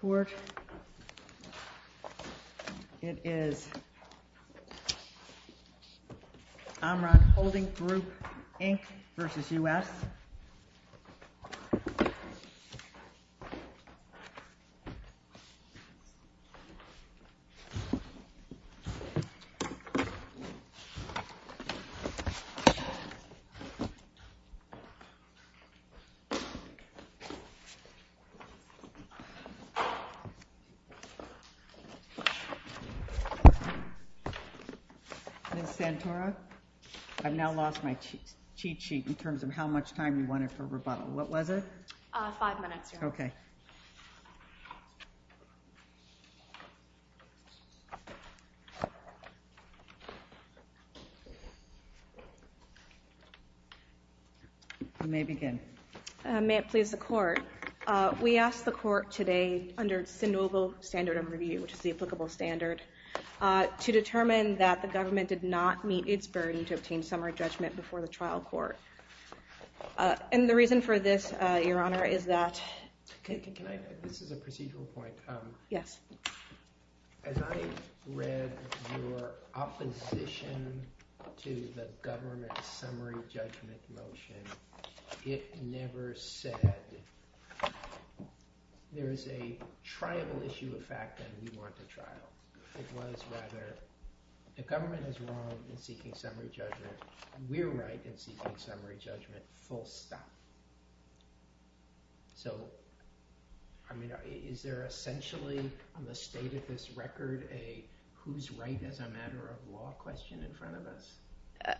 Court. It is Amran Holding Group, Inc. v. U.S. Court. Ms. Santora, I've now lost my cheat sheet in terms of how much time you wanted for rebuttal. What was it? Five minutes, Your Honor. Okay. You may begin. May it please begin. Thank you, Your Honor. I'm going to start with the court. We asked the court today under Sandoval Standard of Review, which is the applicable standard, to determine that the government did not meet its burden to obtain summary judgment before the trial court. And the reason for this, Your Honor, is that... This is a procedural point. Yes. As I read your opposition to the government's summary judgment motion, it never said there is a triable issue of fact and we want a trial. It was rather the government is wrong in seeking summary judgment. We're right in seeking summary judgment, full stop. So, I mean, is there on the state of this record a who's right as a matter of law question in front of us?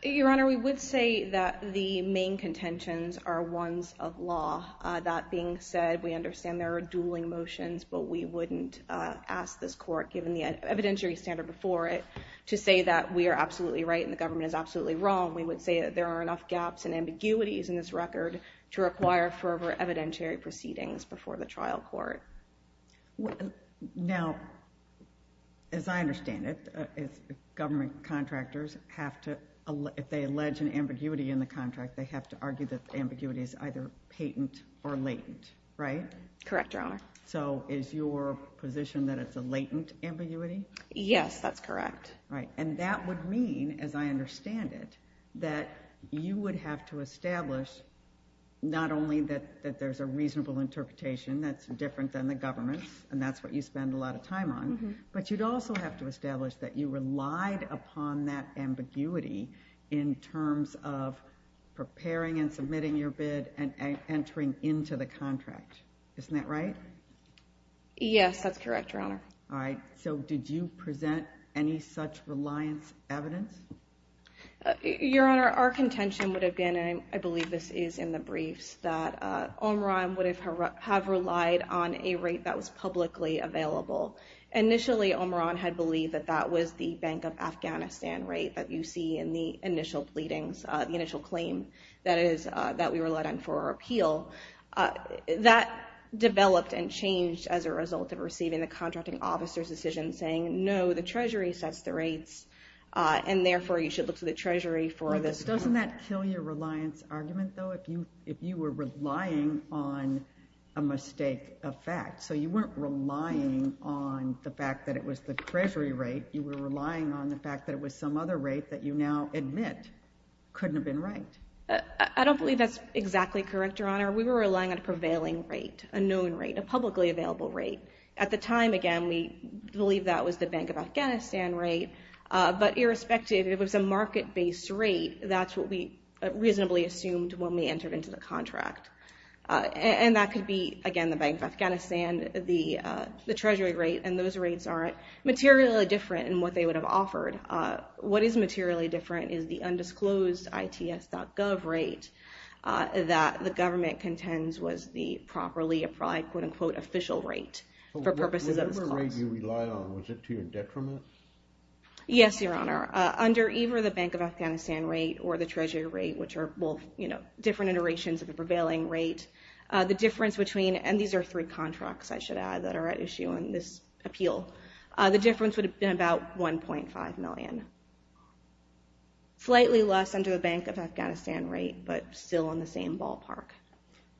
Your Honor, we would say that the main contentions are ones of law. That being said, we understand there are dueling motions, but we wouldn't ask this court, given the evidentiary standard before it, to say that we are absolutely right and the government is absolutely wrong. We would say that there are enough gaps and ambiguities in this record to require further evidentiary proceedings before the trial court. Now, as I understand it, government contractors have to, if they allege an ambiguity in the contract, they have to argue that the ambiguity is either patent or latent, right? Correct, Your Honor. So, is your position that it's a latent ambiguity? Yes, that's correct. Right. And that would mean, as I understand it, that you would have to establish not only that there's a reasonable interpretation that's different than the government's, and that's what you spend a lot of time on, but you'd also have to establish that you relied upon that ambiguity in terms of preparing and submitting your bid and entering into the contract. Isn't that right? Yes, that's correct, Your Honor. All right. So, did you present any such reliance evidence? Your Honor, our contention would have been, and I believe this is in the briefs, that Omran would have relied on a rate that was publicly available. Initially, Omran had believed that that was the Bank of Afghanistan rate that you see in the initial pleadings, the initial claim that we relied on for our officers' decision, saying, no, the Treasury sets the rates, and therefore, you should look to the Treasury for this. Doesn't that kill your reliance argument, though, if you were relying on a mistake of fact? So, you weren't relying on the fact that it was the Treasury rate, you were relying on the fact that it was some other rate that you now admit couldn't have been right. I don't believe that's exactly correct, Your Honor. We were relying on a prevailing rate, a known rate, a publicly available rate. At the time, again, we believe that was the Bank of Afghanistan rate, but irrespective, it was a market-based rate. That's what we reasonably assumed when we entered into the contract. And that could be, again, the Bank of Afghanistan, the Treasury rate, and those rates aren't materially different in what they would have offered. What is materially different is the undisclosed ITS.gov rate that the government contends was the properly applied, quote-unquote, official rate for purposes of this clause. So, whatever rate you relied on, was it to your detriment? Yes, Your Honor. Under either the Bank of Afghanistan rate or the Treasury rate, which are both different iterations of the prevailing rate, the difference between, and these are three contracts, I should add, that are at issue in this appeal, the difference would have been about $1.5 million. Slightly less under the Bank of Afghanistan rate, but still on the same ballpark.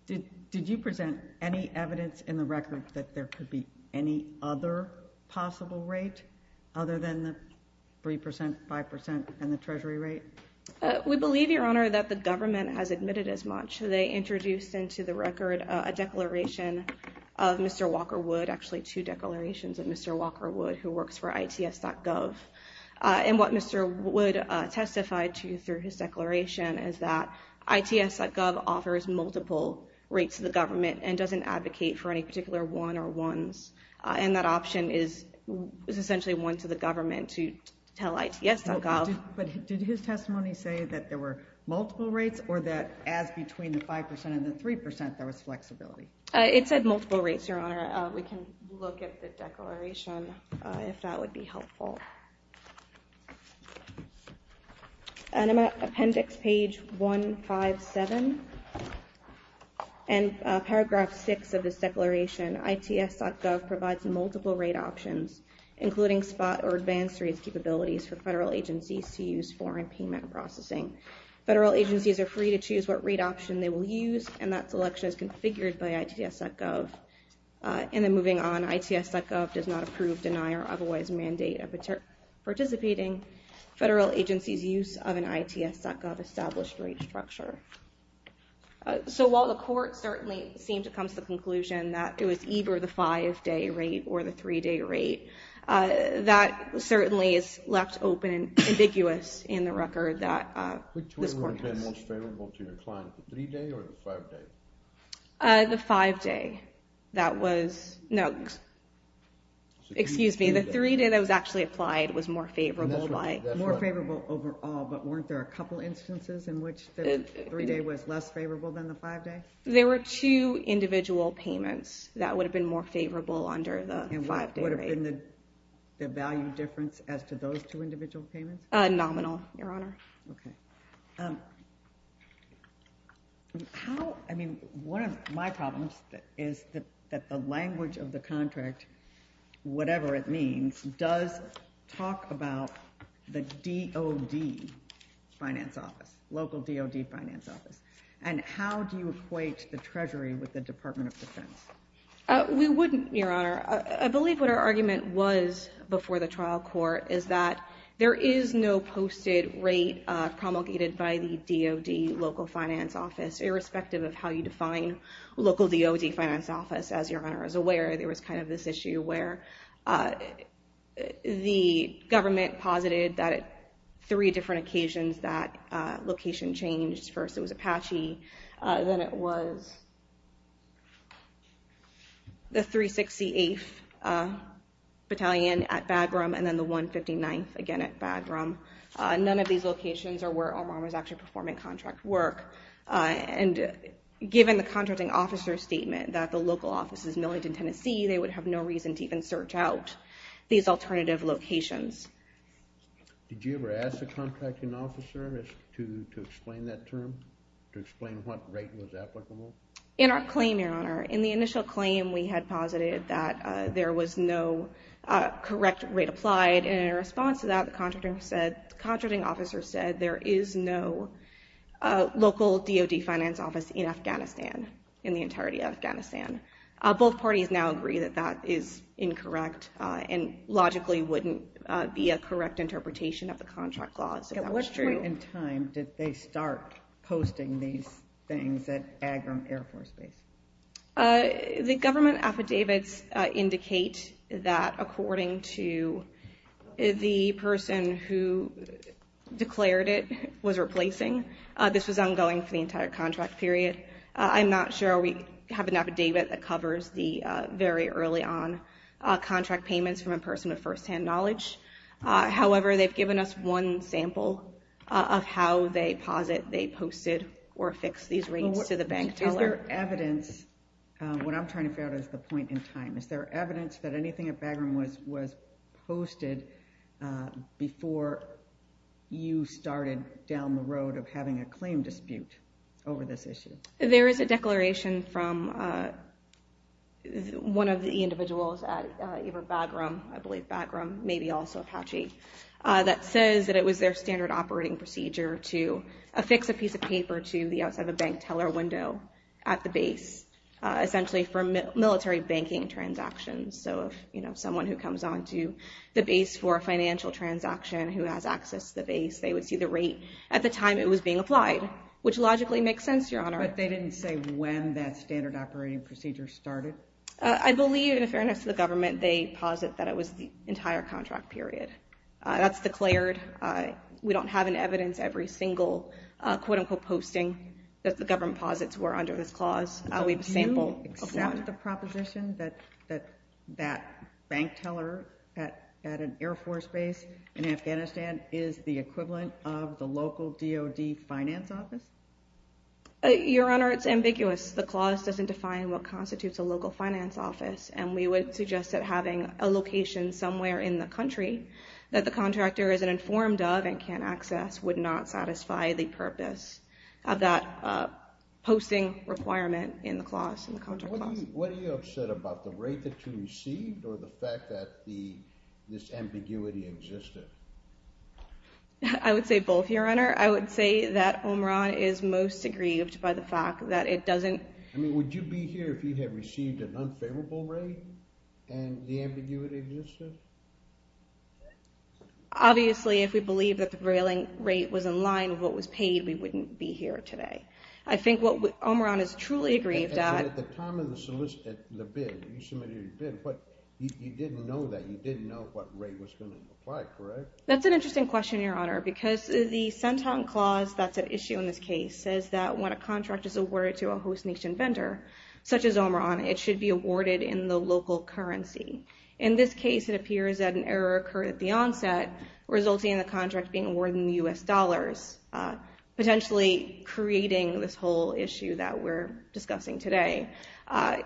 Did you present any evidence in the record that there could be any other possible rate, other than the 3%, 5%, and the Treasury rate? We believe, Your Honor, that the government has admitted as much. They introduced into the record a declaration of Mr. Walker Wood, actually two declarations of Mr. Walker Wood, who works for ITS.gov. And what Mr. Wood testified to through his declaration is that ITS.gov offers multiple rates to the government and doesn't advocate for any particular one or ones. And that option is essentially one to the government to tell ITS.gov. But did his testimony say that there were multiple rates or that as between the 5% and the 3% there was flexibility? It said I'll look at the declaration if that would be helpful. And I'm at appendix page 157, and paragraph 6 of this declaration, ITS.gov provides multiple rate options, including spot or advanced rates capabilities for federal agencies to use foreign payment processing. Federal agencies are free to choose what rate option they will use, and that selection is configured by ITS.gov. And then moving on, ITS.gov does not approve, deny, or otherwise mandate participating federal agencies' use of an ITS.gov established rate structure. So while the court certainly seemed to come to the conclusion that it was either the five-day rate or the three-day rate, that certainly is left open and ambiguous in the court. The five-day, that was, no, excuse me, the three-day that was actually applied was more favorable by... More favorable overall, but weren't there a couple instances in which the three-day was less favorable than the five-day? There were two individual payments that would have been more favorable under the five-day rate. And what would have been the value difference as to those two individual payments? Nominal, Your Honor. Okay. How, I mean, one of my problems is that the language of the contract, whatever it means, does talk about the DOD finance office, local DOD finance office. And how do you equate the Treasury with the Department of Defense? We wouldn't, Your Honor. I believe what our argument was before the trial court is that there is no posted rate promulgated by the DOD local finance office, irrespective of how you define local DOD finance office. As Your Honor is aware, there was kind of this issue where the government posited that at three different occasions that location changed. First it was Apache, then it was the 368th Battalion at Bagram, and then the 159th again at Bagram. None of these locations are where Omar was actually performing contract work. And given the contracting officer's statement that the local office is Millington, Tennessee, they would have no reason to even search out these alternative locations. Did you ever ask the contracting officer to explain that term, to explain what rate was applicable? In our claim, Your Honor, in the initial claim we had posited that there was no correct rate applied, and in response to that, the contracting officer said there is no local DOD finance office in Afghanistan, in the entirety of Afghanistan. Both parties now agree that that is incorrect and logically wouldn't be a correct interpretation of the contract laws. So that was true. At what point in time did they start posting these things at Bagram Air Force Base? The government affidavits indicate that according to the person who declared it was replacing, this was ongoing for the entire contract period. I'm not sure we have an affidavit that covers the very early on contract payments from a person with firsthand knowledge. However, they've given us one sample of how they posit they posted or fixed these rates to the bank teller. Is there evidence, what I'm trying to figure out is the point in time, is there evidence that anything at Bagram was posted before you started down the road of having a claim dispute over this issue? There is a declaration from one of the individuals at Bagram, I believe Bagram, maybe also Apache, that says that it was their standard operating procedure to affix a piece of paper to the bank teller window at the base, essentially for military banking transactions. So if someone who comes onto the base for a financial transaction who has access to the base, they would see the rate at the time it was being applied, which logically makes sense, Your Honor. But they didn't say when that standard operating procedure started? I believe, in fairness to the government, they posit that it was the entire contract period. That's declared. We don't have any evidence, every single quote-unquote posting, that the government posits were under this clause. Do you accept the proposition that that bank teller at an Air Force base in Afghanistan is the equivalent of the local DOD finance office? Your Honor, it's ambiguous. The clause doesn't define what constitutes a local finance office, and we would suggest that having a location somewhere in the country that the contractor isn't informed of and can't access would not satisfy the purpose of that posting requirement in the clause, in the contract clause. What are you upset about? The rate that you received, or the fact that this ambiguity existed? I would say both, Your Honor. I would say that Omran is most aggrieved by the fact that it doesn't... I mean, would you be here if you had received an unfavorable rate and the ambiguity existed? Obviously, if we believe that the railing rate was in line with what was paid, we wouldn't be here today. I think what Omran is truly aggrieved at... At the time of the bid, you submitted your bid, but you didn't know that. You didn't know what rate was going to apply, correct? That's an interesting question, Your Honor, because the Centon clause that's at issue in this case says that when a contract is awarded to a host nation vendor, such as Omran, it should be awarded in the local currency. In this case, it appears that an error occurred at the onset, resulting in the contract being awarded in the U.S. dollars, potentially creating this whole issue that we're discussing today.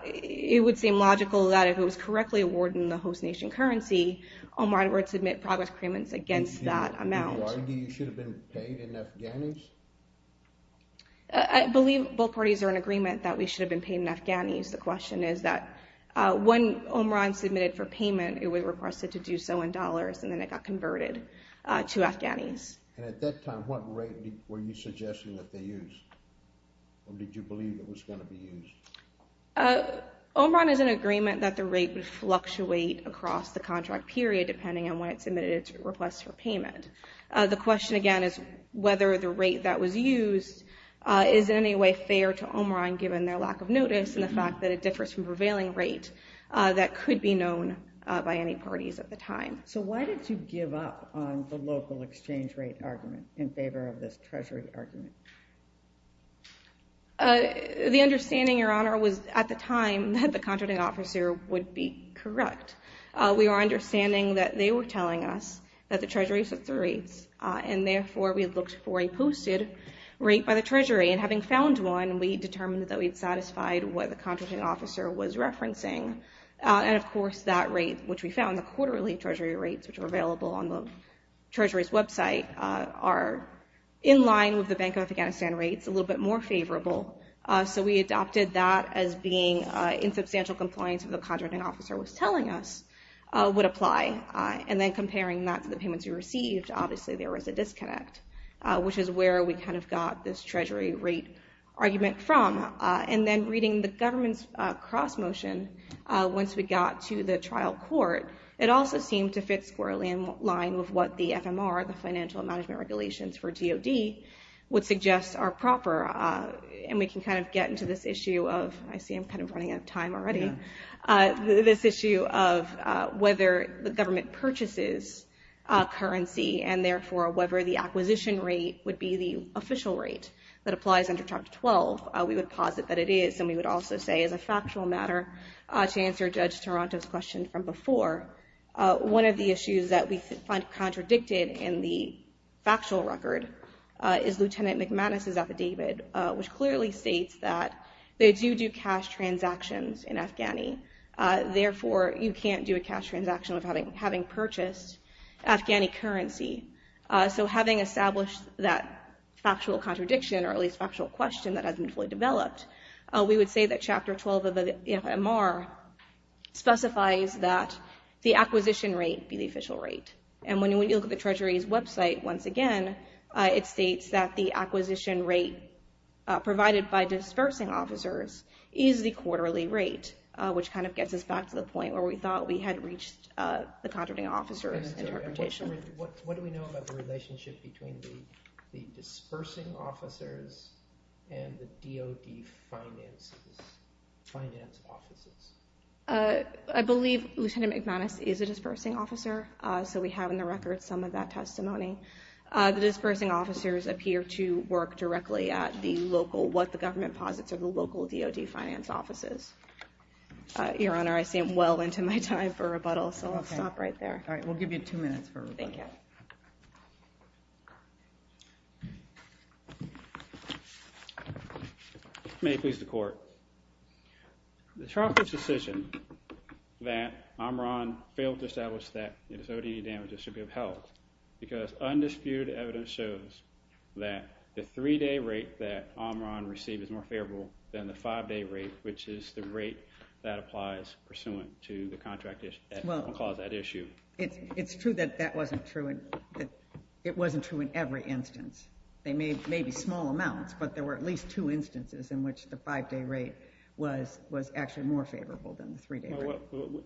It would seem logical that if it was correctly awarded in the host nation currency, Omran would submit progress claimants against that amount. Do you argue you should have been paid in Afghanis? I believe both parties are in agreement that we should have been paid in Afghanis. The question is that when Omran submitted for payment, it was requested to do so in dollars and then it got converted to Afghanis. And at that time, what rate were you suggesting that they used, or did you believe it was going to be used? Omran is in agreement that the rate would fluctuate across the contract period, depending on when it submitted its request for payment. The question again is whether the rate that was used is in any way fair to Omran, given their lack of notice and the fact that it differs from prevailing rate that could be known by any parties at the time. So why did you give up on the local exchange rate argument in favor of this treasury argument? The understanding, Your Honor, was at the time that the contracting officer would be correct. We were understanding that they were telling us that the treasury sets the rates, and therefore we looked for a posted rate by the treasury. And having found one, we determined that we had satisfied what the contracting officer was referencing. And of course, that rate, which we found, the quarterly treasury rates, which are available on the treasury's website, are in line with the Bank of Afghanistan rates, a little bit more favorable. So we adopted that as being in substantial compliance with what the contracting officer was telling us would apply. And then comparing that to the payments we received, obviously there was a disconnect, which is where we kind of got this treasury rate argument from. And then reading the government's cross motion, once we got to the trial court, it also seemed to fit squarely in line with what the FMR, the financial management regulations for DoD, would suggest are proper. And we can kind of get into this issue of, I see I'm kind of running out of time already. This issue of whether the government purchases currency, and therefore whether the acquisition rate would be the official rate that applies under Chapter 12, we would posit that it is. And we would also say, as a factual matter, to answer Judge Taranto's question from before, one of the issues that we find contradicted in the factual record is Lieutenant McManus's testimony. Therefore you can't do a cash transaction without having purchased Afghani currency. So having established that factual contradiction, or at least factual question that hasn't been fully developed, we would say that Chapter 12 of the FMR specifies that the acquisition rate be the official rate. And when you look at the Treasury's website, once again, it states that the acquisition rate provided by dispersing officers is the quarterly rate, which kind of gets us back to the point where we thought we had reached the contracting officer's interpretation. And what do we know about the relationship between the dispersing officers and the DoD finance offices? I believe Lieutenant McManus is a dispersing officer. So we have in the record some of that testimony. The dispersing officers appear to work directly at the local, what the government posits, are the local DoD finance offices. Your Honor, I seem well into my time for rebuttal, so I'll stop right there. All right, we'll give you two minutes for rebuttal. Thank you. May it please the Court. The trial court's decision that Amran failed to establish that his ODE damages should be upheld, because undisputed evidence shows that the three-day rate that Amran received is more favorable than the five-day rate, which is the rate that applies pursuant to the contract that caused that issue. Well, it's true that that wasn't true, and it wasn't true in every instance. There may be small amounts, but there were at least two instances in which the five-day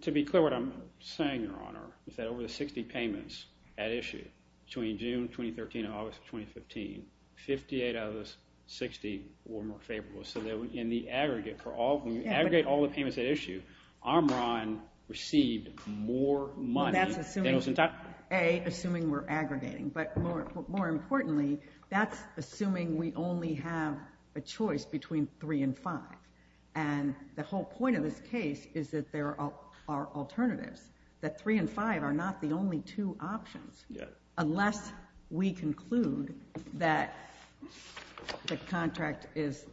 To be clear, what I'm saying, Your Honor, is that over the 60 payments at issue, between June 2013 and August 2015, 58 out of those 60 were more favorable. So in the aggregate, when you aggregate all the payments at issue, Amran received more money. Well, that's assuming, A, assuming we're aggregating. But more importantly, that's assuming we only have a choice between three and five. And the whole point of this case is that there are alternatives. That three and five are not the only two options. Yes. Unless we conclude that the contract is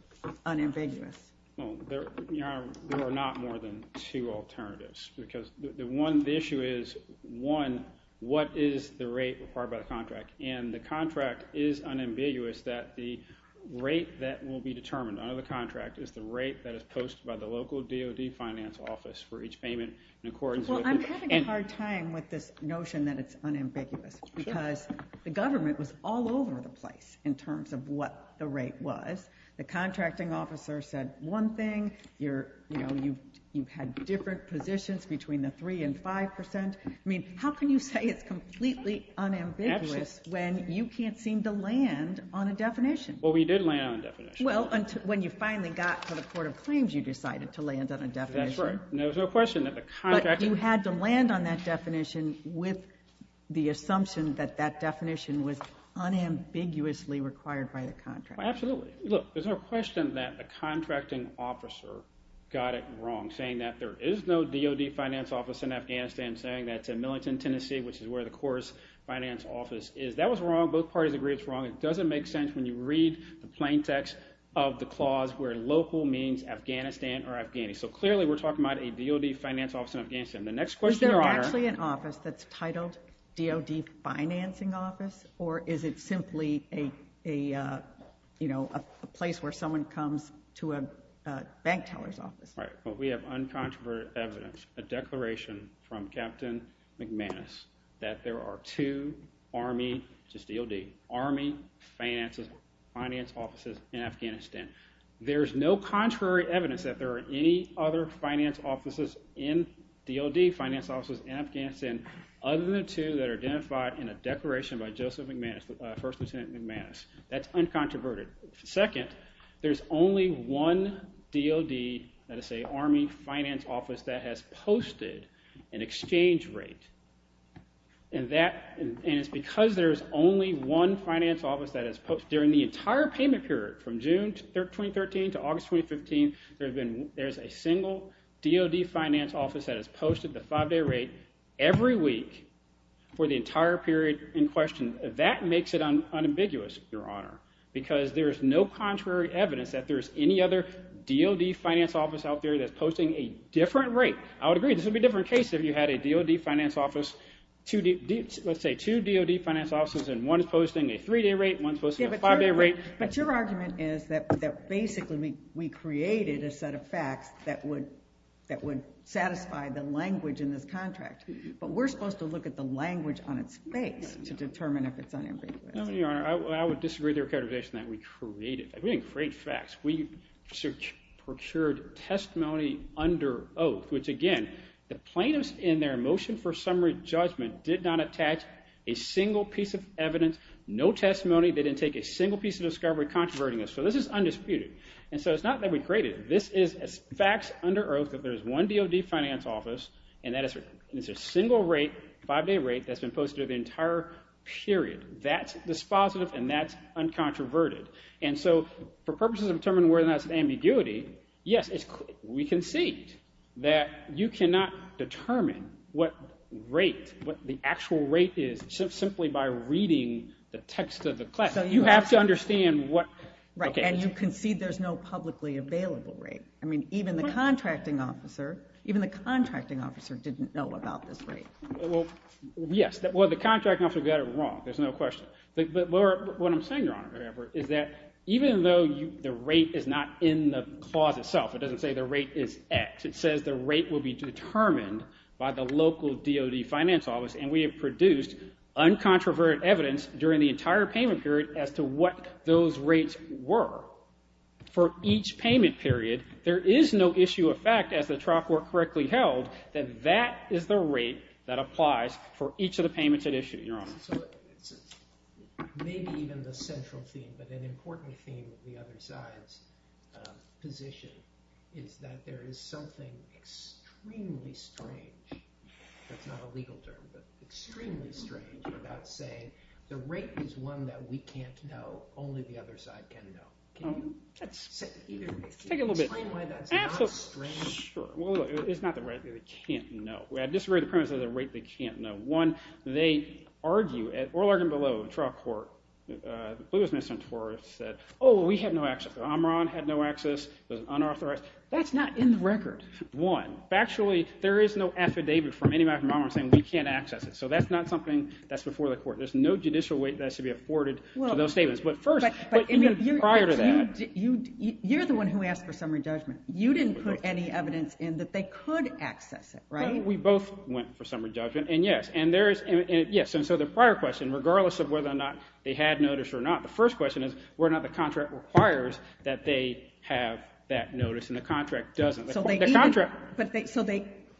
unambiguous. Well, there are not more than two alternatives. Because the issue is, one, what is the rate required by the contract? And the contract is unambiguous that the rate that will be determined under the contract is the rate that is posted by the local DOD finance office for each payment in accordance with it. Well, I'm having a hard time with this notion that it's unambiguous. Because the government was all over the place in terms of what the rate was. The contracting officer said one thing. You had different positions between the three and five percent. I mean, how can you say it's completely unambiguous when you can't seem to land on a definition? Well, we did land on a definition. Well, when you finally got to the Court of Claims, you decided to land on a definition. That's right. And there was no question that the contract... But you had to land on that definition with the assumption that that definition was unambiguously required by the contract. Well, absolutely. Look, there's no question that the contracting officer got it wrong, saying that there is no DOD finance office in Afghanistan, saying that it's in Millington, Tennessee, which is where the Cora's finance office is. That was wrong. Both parties agree it's wrong. It doesn't make sense when you read the plain text of the clause where local means Afghanistan or Afghani. So clearly we're talking about a DOD finance office in Afghanistan. Is there actually an office that's titled DOD financing office? Or is it simply a place where someone comes to a bank teller's office? Right. But we have uncontroverted evidence, a declaration from Captain McManus, that there are two army, just DOD, army finances, finance offices in Afghanistan. There's no contrary evidence that there are any other finance offices in DOD, finance offices in Afghanistan, other than the two that are identified in a declaration by Joseph McManus, First Lieutenant McManus. That's uncontroverted. Second, there's only one DOD, that is to say army finance office, that has posted an exchange rate. And it's because there's only one finance office that has posted, during the entire payment period from June 2013 to August 2015, there's a single DOD finance office that has posted the five-day rate every week for the entire period in question. That makes it unambiguous, Your Honor, because there's no contrary evidence that there's any other DOD finance office out there that's posting a different rate. I would agree, this would be a different case if you had a DOD finance office, let's say two DOD finance offices, and one is posting a three-day rate, one is posting a five-day rate. But your argument is that basically we created a set of facts that would satisfy the language in this contract. But we're supposed to look at the language on its face to determine if it's unambiguous. No, Your Honor, I would disagree with the characterization that we created. We didn't create facts, we procured testimony under oath, which again, the plaintiffs in their motion for summary judgment did not attach a single piece of evidence, no testimony, they didn't take a single piece of discovery controverting us. So this is undisputed. And so it's not that we created it, this is facts under oath that there's one DOD finance office, and it's a single rate, five-day rate, that's been posted the entire period. That's dispositive and that's uncontroverted. And so for purposes of determining whether or not it's an ambiguity, yes, we concede that you cannot determine what rate, what the actual rate is simply by reading the text of the class. You have to understand what... Right, and you concede there's no publicly available rate. I mean, even the contracting officer, even the contracting officer didn't know about this rate. Well, yes, well, the contracting officer got it wrong, there's no question. But what I'm saying, Your Honor, is that even though the rate is not in the clause itself, it doesn't say the rate is X, it says the rate will be determined by the local DOD finance office, and we have produced uncontroverted evidence during the entire payment period as to what those rates were. For each payment period, there is no issue of fact as the trial court correctly held that that is the rate that applies for each of the payments at issue, Your Honor. Maybe even the central theme, but an important theme of the other side's position is that there is something extremely strange, that's not a legal term, but extremely strange about saying the rate is one that we can't know, only the other side can know. Can you say either way? Take it a little bit. Explain why that's not strange. Sure, well, it's not the rate that they can't know. I disagree with the premise of the rate they can't know. One, they argue, at oral argument below, the trial court, the Blue House Ministry of Information said, oh, we had no access, Omron had no access, it was unauthorized. That's not in the record. One, factually, there is no affidavit from anybody from Omron saying we can't access it. So that's not something that's before the court. There's no judicial weight that has to be afforded to those statements. But first, prior to that... You're the one who asked for summary judgment. You didn't put any evidence in that they could access it, right? We both went for summary judgment, and yes. And so the prior question, regardless of whether or not they had notice or not, the first question is whether or not the contract requires that they have that notice, and the contract doesn't. So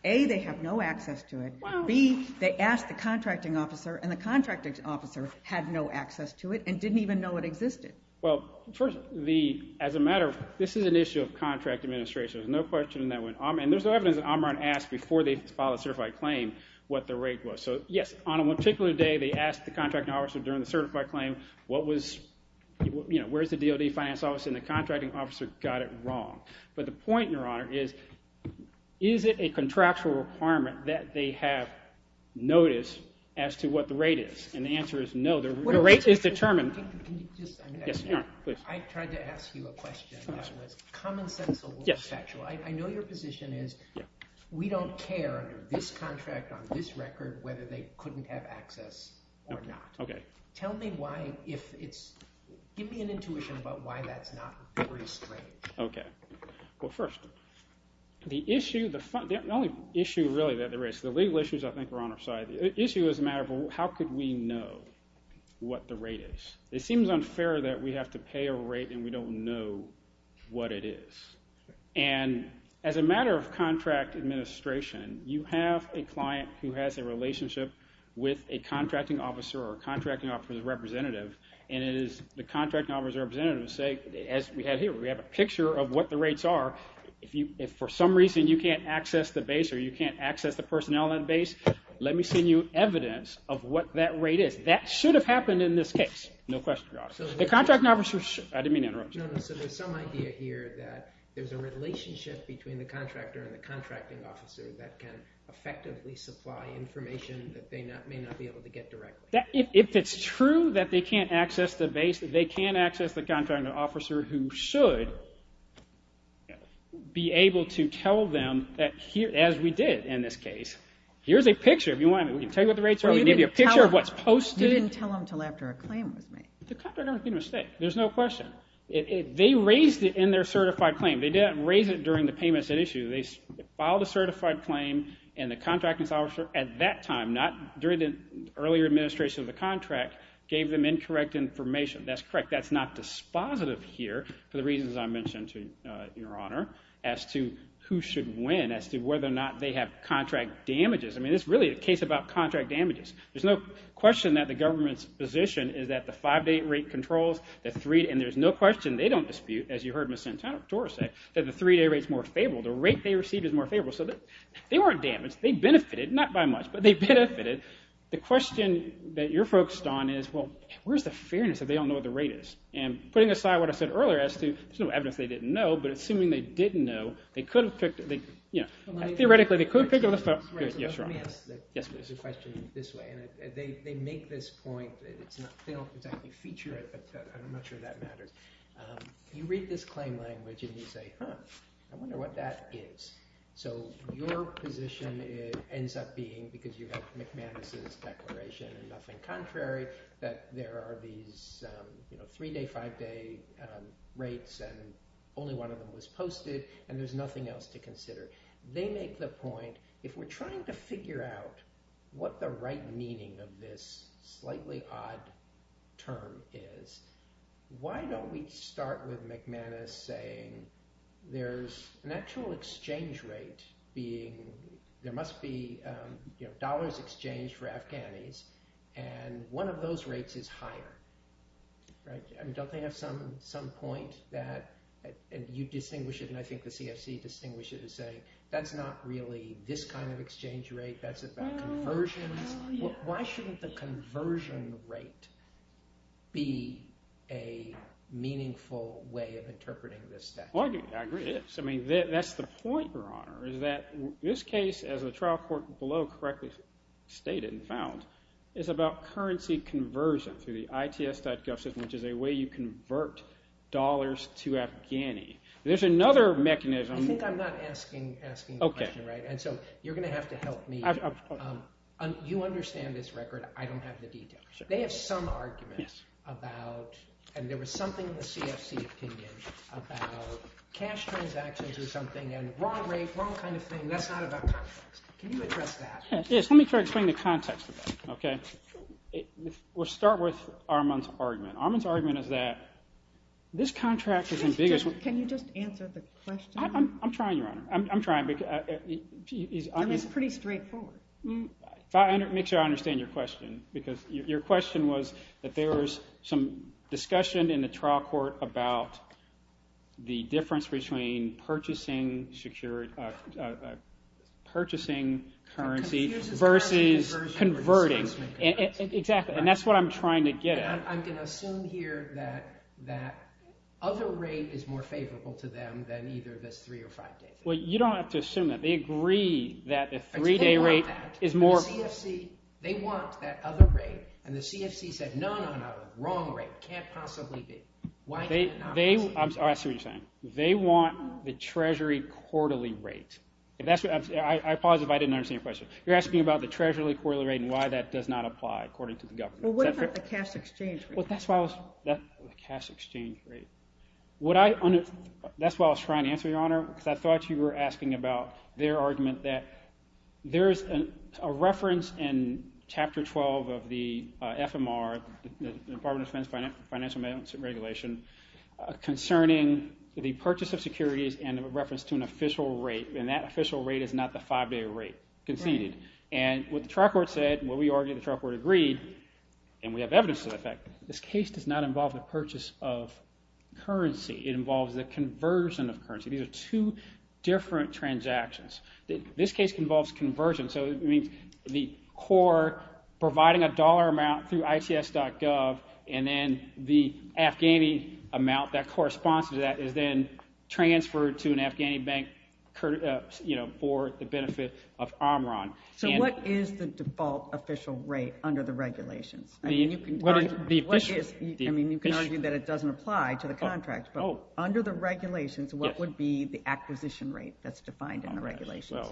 A, they have no access to it. B, they asked the contracting officer, and the contracting officer had no access to it, and didn't even know it existed. Well, as a matter of... This is an issue of contract administration. And there's no evidence that Omron asked before they filed a certified claim what the rate was. So yes, on a particular day, they asked the contracting officer during the certified claim, where's the DOD finance office, and the contracting officer got it wrong. But the point, Your Honor, is, is it a contractual requirement that they have notice as to what the rate is? And the answer is no. The rate is determined... Can you just... I tried to ask you a question. Common sense or factual? I know your position is we don't care under this contract, on this record, whether they couldn't have access or not. Tell me why if it's... Give me an intuition about why that's not very straight. Okay. Well, first, the issue... The only issue, really, that there is... The legal issues, I think, are on our side. The issue is a matter of how could we know what the rate is? It seems unfair that we have to pay a rate and we don't know what it is. And as a matter of contract administration, you have a client who has a relationship with a contracting officer or a contracting officer's representative, and it is the contracting officer's representative to say, as we have here, we have a picture of what the rates are. If for some reason you can't access the base or you can't access the personnel at the base, let me send you evidence of what that rate is. That should have happened in this case. No question about it. The contracting officer... I didn't mean to interrupt you. No, no. So there's some idea here that there's a relationship between the contractor and the contracting officer that can effectively supply information that they may not be able to get directly. If it's true that they can't access the base, that they can't access the contracting officer, who should be able to tell them, as we did in this case, here's a picture. We can tell you what the rates are. We can give you a picture of what's posted. You didn't tell them until after a claim was made. The contractor made a mistake. There's no question. They raised it in their certified claim. They didn't raise it during the payments at issue. They filed a certified claim, and the contracting officer at that time, not during the earlier administration of the contract, gave them incorrect information. That's correct. That's not dispositive here for the reasons I mentioned, Your Honor, as to who should win, as to whether or not they have contract damages. This is really a case about contract damages. There's no question that the government's position is that the five-day rate controls, and there's no question they don't dispute, as you heard Ms. Santora say, that the three-day rate is more favorable. The rate they received is more favorable. They weren't damaged. They benefited. Not by much, but they benefited. The question that you're focused on is, where's the fairness if they don't know what the rate is? Putting aside what I said earlier as to, there's no evidence they didn't know, but assuming they didn't know, theoretically, they could figure this out. Let me ask the question this way. They make this point, they don't exactly feature it, but I'm not sure that matters. You read this claim language, and you say, huh, I wonder what that is. So your position ends up being, because you have McManus's declaration, and nothing contrary, that there are these three-day, five-day rates, and only one of them was posted, and there's no evidence they didn't know. There's nothing else to consider. They make the point, if we're trying to figure out what the right meaning of this slightly odd term is, why don't we start with McManus saying, there's an actual exchange rate being, there must be dollars exchanged for Afghanis, and one of those rates is higher. Don't they have some point that, and you distinguish it, and I think the CFC distinguish it as saying, that's not really this kind of exchange rate, that's about conversions. Why shouldn't the conversion rate be a meaningful way of interpreting this statute? I agree, yes. That's the point, Your Honor, is that this case, as the trial court below correctly stated and found, is about currency conversion through the ITS.gov system, which is a way you convert dollars to Afghani. There's another mechanism. I think I'm not asking the question right, and so you're going to have to help me. You understand this record, I don't have the details. They have some argument about, and there was something in the CFC opinion about cash transactions or something and wrong rate, wrong kind of thing, that's not about context. Can you address that? Yes, let me try to explain the context of that. We'll start with Armand's argument. Armand's argument is that this contract is the biggest... Can you just answer the question? I'm trying, Your Honor. It's pretty straightforward. Make sure I understand your question, because your question was that there was some discussion in the trial court about the difference between purchasing currency versus converting. That's what I'm trying to get at. I'm going to assume here that other rate is more favorable to them than either this three or five day thing. You don't have to assume that. They agree that the three day rate is more... They want that other rate, and the CFC said no, no, no, wrong rate. Can't possibly be. They want the treasury quarterly rate. I paused if I didn't understand your question. You're asking about the treasury quarterly rate and why that does not apply according to the government. What about the cash exchange rate? The cash exchange rate. That's what I was trying to answer, Your Honor. I thought you were asking about their argument that there's a reference in Chapter 12 of the FMR, the Department of Defense Financial Balance Regulation, concerning the purchase of securities and a reference to an official rate, and that official rate is not the five day rate conceded. And what the trial court said, what we argued the trial court agreed, and we have evidence to that fact, this case does not involve the purchase of currency. It involves the conversion of currency. These are two different transactions. This case involves conversion, so it means the core providing a dollar amount through ICS.gov, and then the Afghani amount that corresponds to that is then transferred to an Afghani bank for the benefit of Omron. So what is the default official rate under the regulations? I mean, you can argue that it doesn't apply to the contract, but under the regulations, what would be the acquisition rate that's defined in the regulations?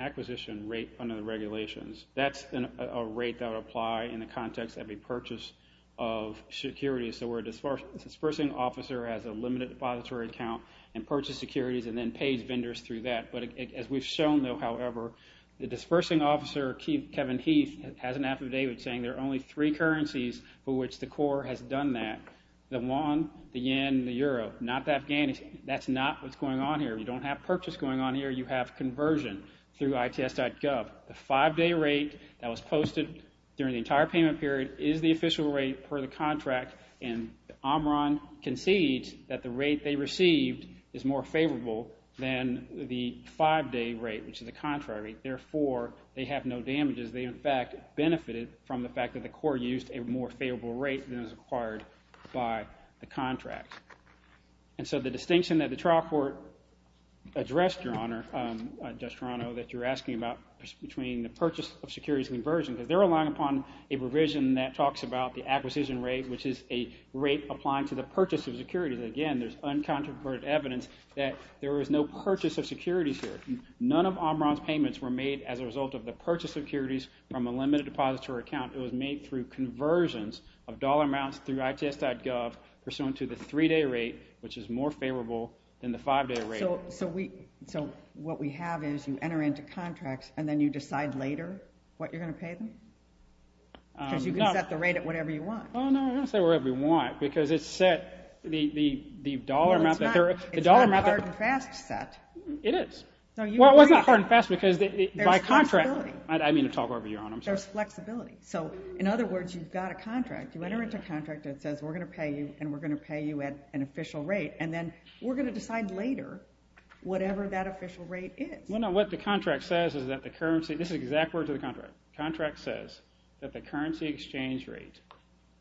Acquisition rate under the regulations. That's a rate that would apply in the context of a purchase of securities, so where a dispersing officer has a limited depository account and purchases securities and then pays vendors through that. As we've shown, though, however, the dispersing officer, Kevin Heath, has an affidavit saying there are only three currencies for which the core has done that. The won, the yen, the euro, not the Afghani. That's not what's going on here. You don't have purchase going on here. You have conversion through ICS.gov. The five-day rate that was posted during the entire payment period is the official rate per the contract, and Omron concedes that the rate they received is more favorable than the five-day rate, which is the contract rate. Therefore, they have no damages. They, in fact, benefited from the fact that the core used a more favorable rate than was required by the contract. And so the distinction that the trial court addressed, Your Honor, Judge Toronto, that you're asking about between the purchase of securities and conversion, because they're relying upon a provision that talks about the acquisition rate, which is a rate applying to the purchase of securities. Again, there's uncontroverted evidence that there was no purchase of securities here. None of Omron's payments were made as a result of the purchase of securities from a limited depository account. It was made through conversions of dollar amounts through ICS.gov pursuant to the three-day rate, which is more favorable than the five-day rate. So what we have is you enter into contracts, and then you decide later what you're going to pay them? Because you can set the rate at whatever you want. Oh, no, I don't set it at whatever I want, because it's set the dollar amount... It's not a hard and fast set. It is. Well, it's not hard and fast because by contract... There's flexibility. I mean to talk over you, Your Honor. There's flexibility. So, in other words, you've got a contract. You enter into a contract that says we're going to pay you and we're going to pay you at an official rate and then we're going to decide later whatever that official rate is. Well, no, what the contract says is that the currency... This is the exact words of the contract. The contract says that the currency exchange rate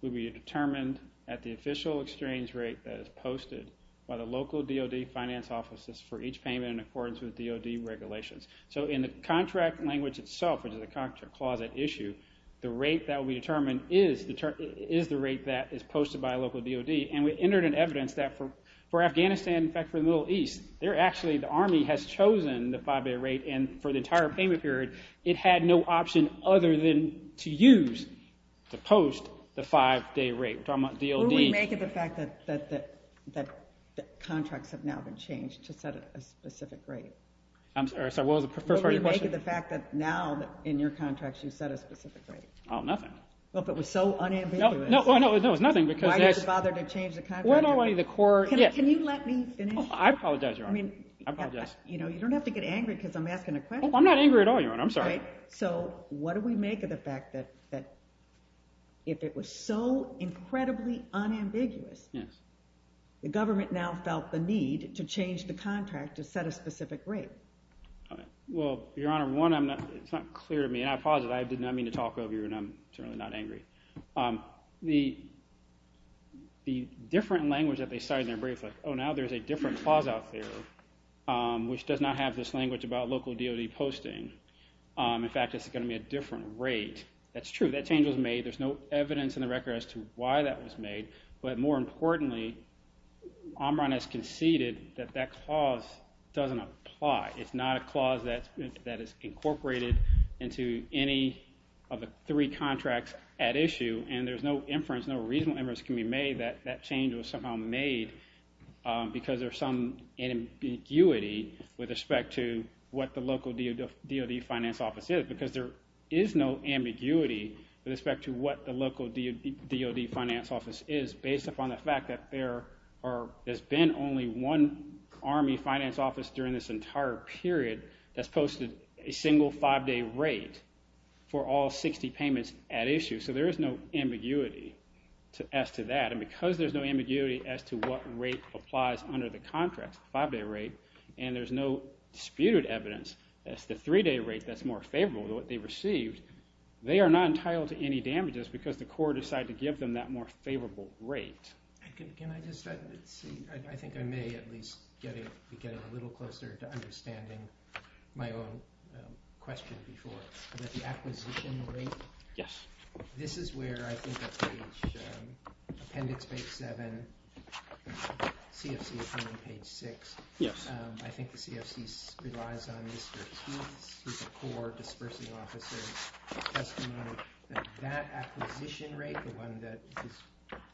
will be determined at the official exchange rate that is posted by the local DOD finance offices for each payment in accordance with DOD regulations. So in the contract language itself, which is a contract clause at issue, the rate that will be determined is the rate that is posted by local DOD, and we entered in evidence that for Afghanistan, in fact, for the Middle East, they're actually... The Army has chosen the five-day rate, and for the entire payment period, it had no option other than to use to post the five-day rate, which I'm a DOD... What would we make of the fact that the contracts have now been changed to set a specific rate? I'm sorry, what was the first part of your question? What would we make of the fact that now, in your contracts, you set a specific rate? Oh, nothing. Well, if it was so unambiguous... No, it's nothing because... Why did you bother to change the contract? Can you let me finish? I apologize, Your Honor. I apologize. You don't have to get angry because I'm asking a question. I'm not angry at all, Your Honor. I'm sorry. So, what do we make of the fact that if it was so incredibly unambiguous, the government now felt the need to change the contract to set a specific rate? Well, Your Honor, one, it's not clear to me, and I posit, I did not mean to talk over you, and I'm certainly not angry. The different language that they cited in their brief, like, oh, now there's a different clause out there, which does not have this language about local DOD posting. In fact, it's going to be a different rate. That's true. That change was made. There's no evidence in the record as to why that was made, but more importantly, Omron has conceded that that clause doesn't apply. It's not a clause that is incorporated into any of the three contracts at issue, and there's no inference, no reasonable inference can be made that that change was somehow made because there's some ambiguity with respect to what the local DOD finance office is because there is no ambiguity with respect to what the local DOD finance office is based upon the fact that there has been only one Army finance office during this entire period that's posted a single five-day rate for all 60 payments at issue, so there is no ambiguity as to that, and because there's no ambiguity as to what rate applies under the contract, the five-day rate, and there's no disputed evidence as to the three-day rate that's more favorable to what they received, they are not entitled to any damages because the court decided to give them that more favorable rate. I think I may at least be getting a little closer to understanding my own question before. The acquisition rate, this is where I think at page, appendix page 7, CFC is on page 6, I think the CFC relies on Mr. Keith's, who's a core dispersing officer, testimony that that acquisition rate, the one that is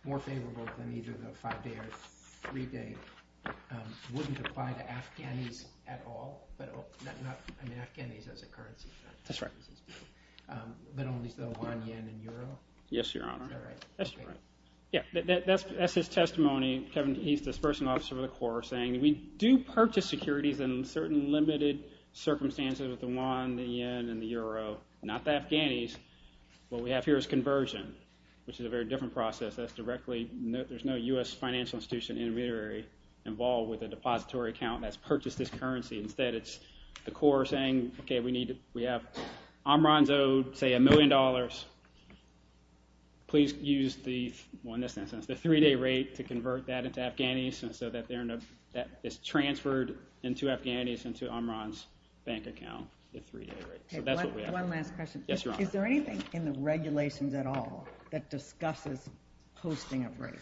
more favorable than either the five-day or three-day, wouldn't apply to Afghanis at all, I mean Afghanis as a currency, that's right. But only for the Yuan, Yen, and Euro? Yes, Your Honor. That's his testimony, he's dispersing officer of the core, saying we do purchase securities in certain limited circumstances with the Yuan, the Yen, and the Euro, not the Afghanis, what we have here is conversion, which is a very different process, that's directly, there's no U.S. financial institution intermediary involved with a depository account that's purchased this currency, instead it's the core saying, okay, we have Amran's owed, say, a million dollars, please use the three-day rate to convert that into Afghanis, and so that is transferred into Afghanis into Amran's bank account, the three-day rate, so that's what we have. Is there anything in the regulations at all that discusses posting of rates?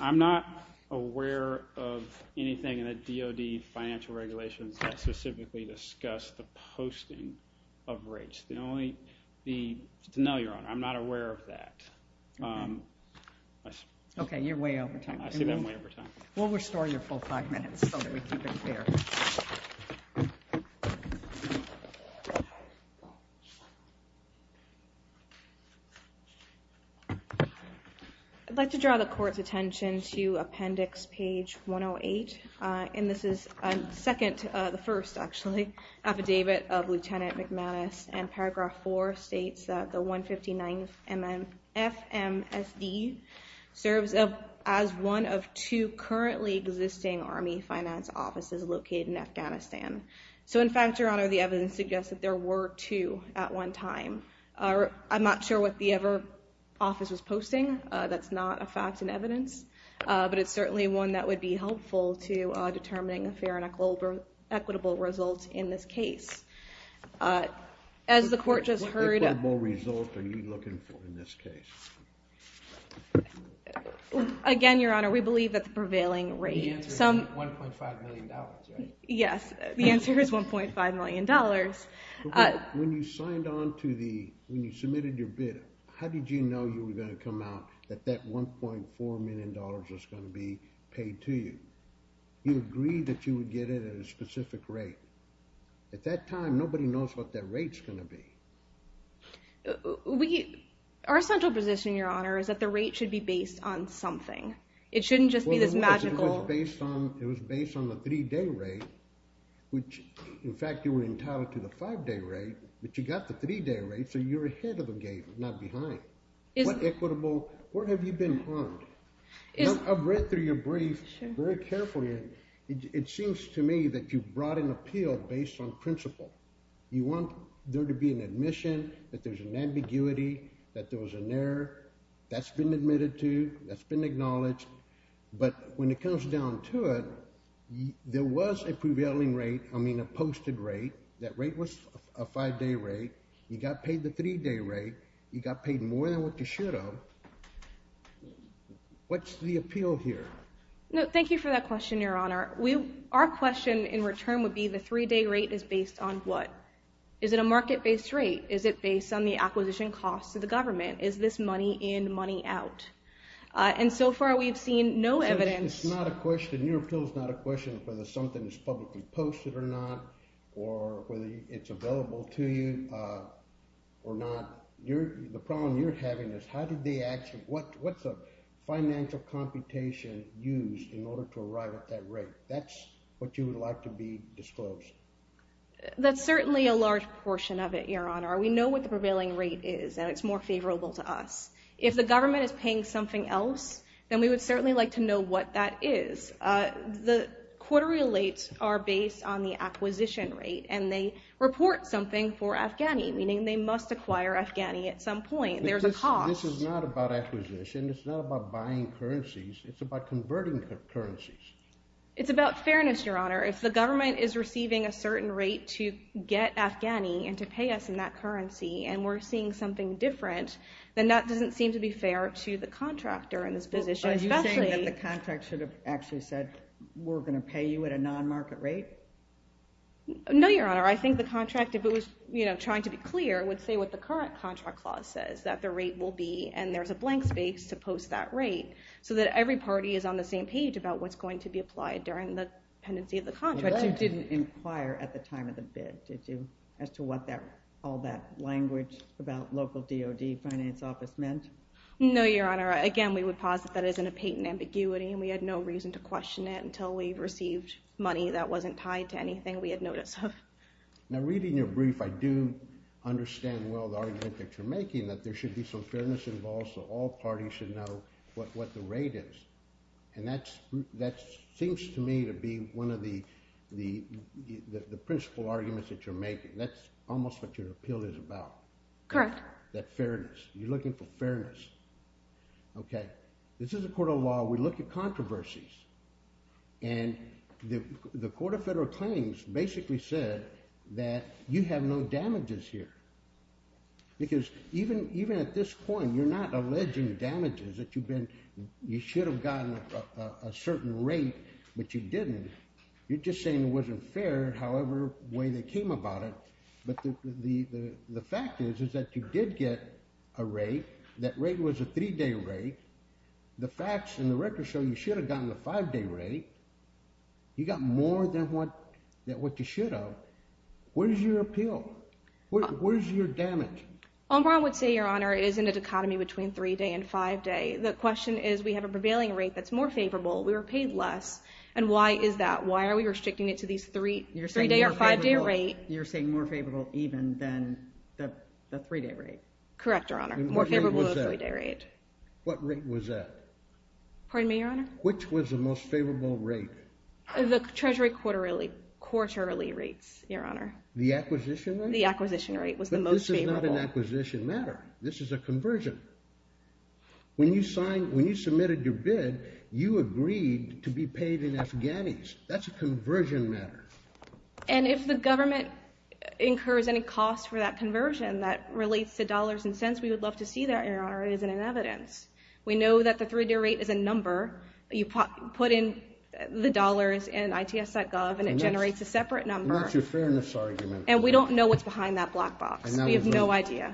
I'm not aware of anything in the DOD financial regulations that specifically discuss the posting of rates, the only the, no, Your Honor, I'm not aware of that. Okay, you're way over time. I see that I'm way over time. We'll restore your full five minutes so that we keep it fair. I'd like to draw the court's attention to appendix page 108, and this is second, the first actually, affidavit of Lieutenant McManus and paragraph four states that the 159th FMSD serves as one of two currently existing Army finance offices located in Afghanistan. So in fact, Your Honor, the evidence suggests that there were two at one time. I'm not sure what the other office was posting, that's not a fact and evidence, but it's certainly one that would be helpful to determining a fair and equitable result in this case. As the court just heard... What equitable result are you looking for in this case? Again, Your Honor, we believe that the prevailing rate... The answer is $1.5 million, right? Yes, the answer is $1.5 million. When you signed on to the, when you submitted your bid, how did you know you were going to come out that that $1.4 million was going to be paid to you? You agreed that you would get it at a specific rate. At that time, nobody knows what that rate's going to be. We... Our central position, Your Honor, is that the rate should be based on something. It shouldn't just be this magical... It was based on the three-day rate, which, in fact, you were entitled to the five-day rate, but you got the three-day rate, so you're ahead of the game, not behind. What equitable... Where have you been harmed? I've read through your brief very carefully, and it seems to me that you brought an appeal based on principle. You want there to be an admission, that there's an ambiguity, that there was an error. That's been admitted to, that's been acknowledged, but when it comes down to it, there was a prevailing rate, I mean, a posted rate. That rate was a five-day rate. You got paid the three-day rate. You got paid more than what you should have. What's the appeal here? No, thank you for that question, Your Honor. We... Our question in return would be, the three-day rate is based on what? Is it a market-based rate? Is it based on the acquisition costs of the government? Is this money in, money out? And so far, we've seen no evidence... It's not a question... Your appeal's not a question whether something is publicly posted or not, or whether it's available to you, or not. The problem you're having is, how did they actually... What's the financial computation used in order to arrive at that rate? That's what you would like to be disclosed. That's certainly a large portion of it, Your Honor. We know what the prevailing rate is, and it's more favorable to us. If the government is paying something else, then we would certainly like to know what that is. The quarterly rates are based on the purchase of something for Afghani, meaning they must acquire Afghani at some point. There's a cost. This is not about acquisition. It's not about buying currencies. It's about converting currencies. It's about fairness, Your Honor. If the government is receiving a certain rate to get Afghani, and to pay us in that currency, and we're seeing something different, then that doesn't seem to be fair to the contractor in this position, especially... Are you saying that the contract should have actually said, we're going to pay you at a non-market rate? No, Your Honor. I think the contract, if it was trying to be clear, would say what the current contract clause says, that the rate will be, and there's a blank space to post that rate so that every party is on the same page about what's going to be applied during the pendency of the contract. But you didn't inquire at the time of the bid, did you, as to what all that language about local DOD finance office meant? No, Your Honor. Again, we would posit that isn't a patent ambiguity, and we had no reason to question it until we received money that wasn't tied to anything we had notice of. Now, reading your brief, I do understand well the argument that you're making, that there should be some fairness involved so all parties should know what the rate is. And that seems to me to be one of the principal arguments that you're making. That's almost what your appeal is about. Correct. That fairness. You're looking for fairness. Okay. This is a court of law. We look at controversies. And the Court of Federal Claims basically said that you have no damages here. Because even at this point, you're not alleging damages, that you've been you should have gotten a certain rate, but you didn't. You're just saying it wasn't fair however way they came about it. But the fact is that you did get a rate. That rate was a three-day rate. The facts and the records show you should have gotten a five-day rate. You got more than what you should have. Where's your appeal? Where's your damage? I would say, Your Honor, it is in a dichotomy between three-day and five-day. The question is we have a prevailing rate that's more favorable. We were paid less. And why is that? Why are we restricting it to these three-day even than the three-day rate? Correct, Your Honor. More favorable than the three-day rate. What rate was that? Pardon me, Your Honor? Which was the most favorable rate? The treasury quarterly rates, Your Honor. The acquisition rate? The acquisition rate was the most favorable. But this is not an acquisition matter. This is a conversion. When you signed, when you submitted your bid, you agreed to be paid in Afghanis. That's a conversion matter. And if the government incurs any cost for that conversion that relates to dollars and cents, we would love to see that, Your Honor. It isn't in evidence. We know that the three-day rate is a number. You put in the dollars in ITS.gov and it generates a separate number. And we don't know what's behind that black box. We have no idea.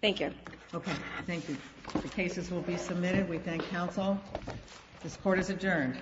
Thank you. The cases will be submitted. We thank counsel. This court is adjourned.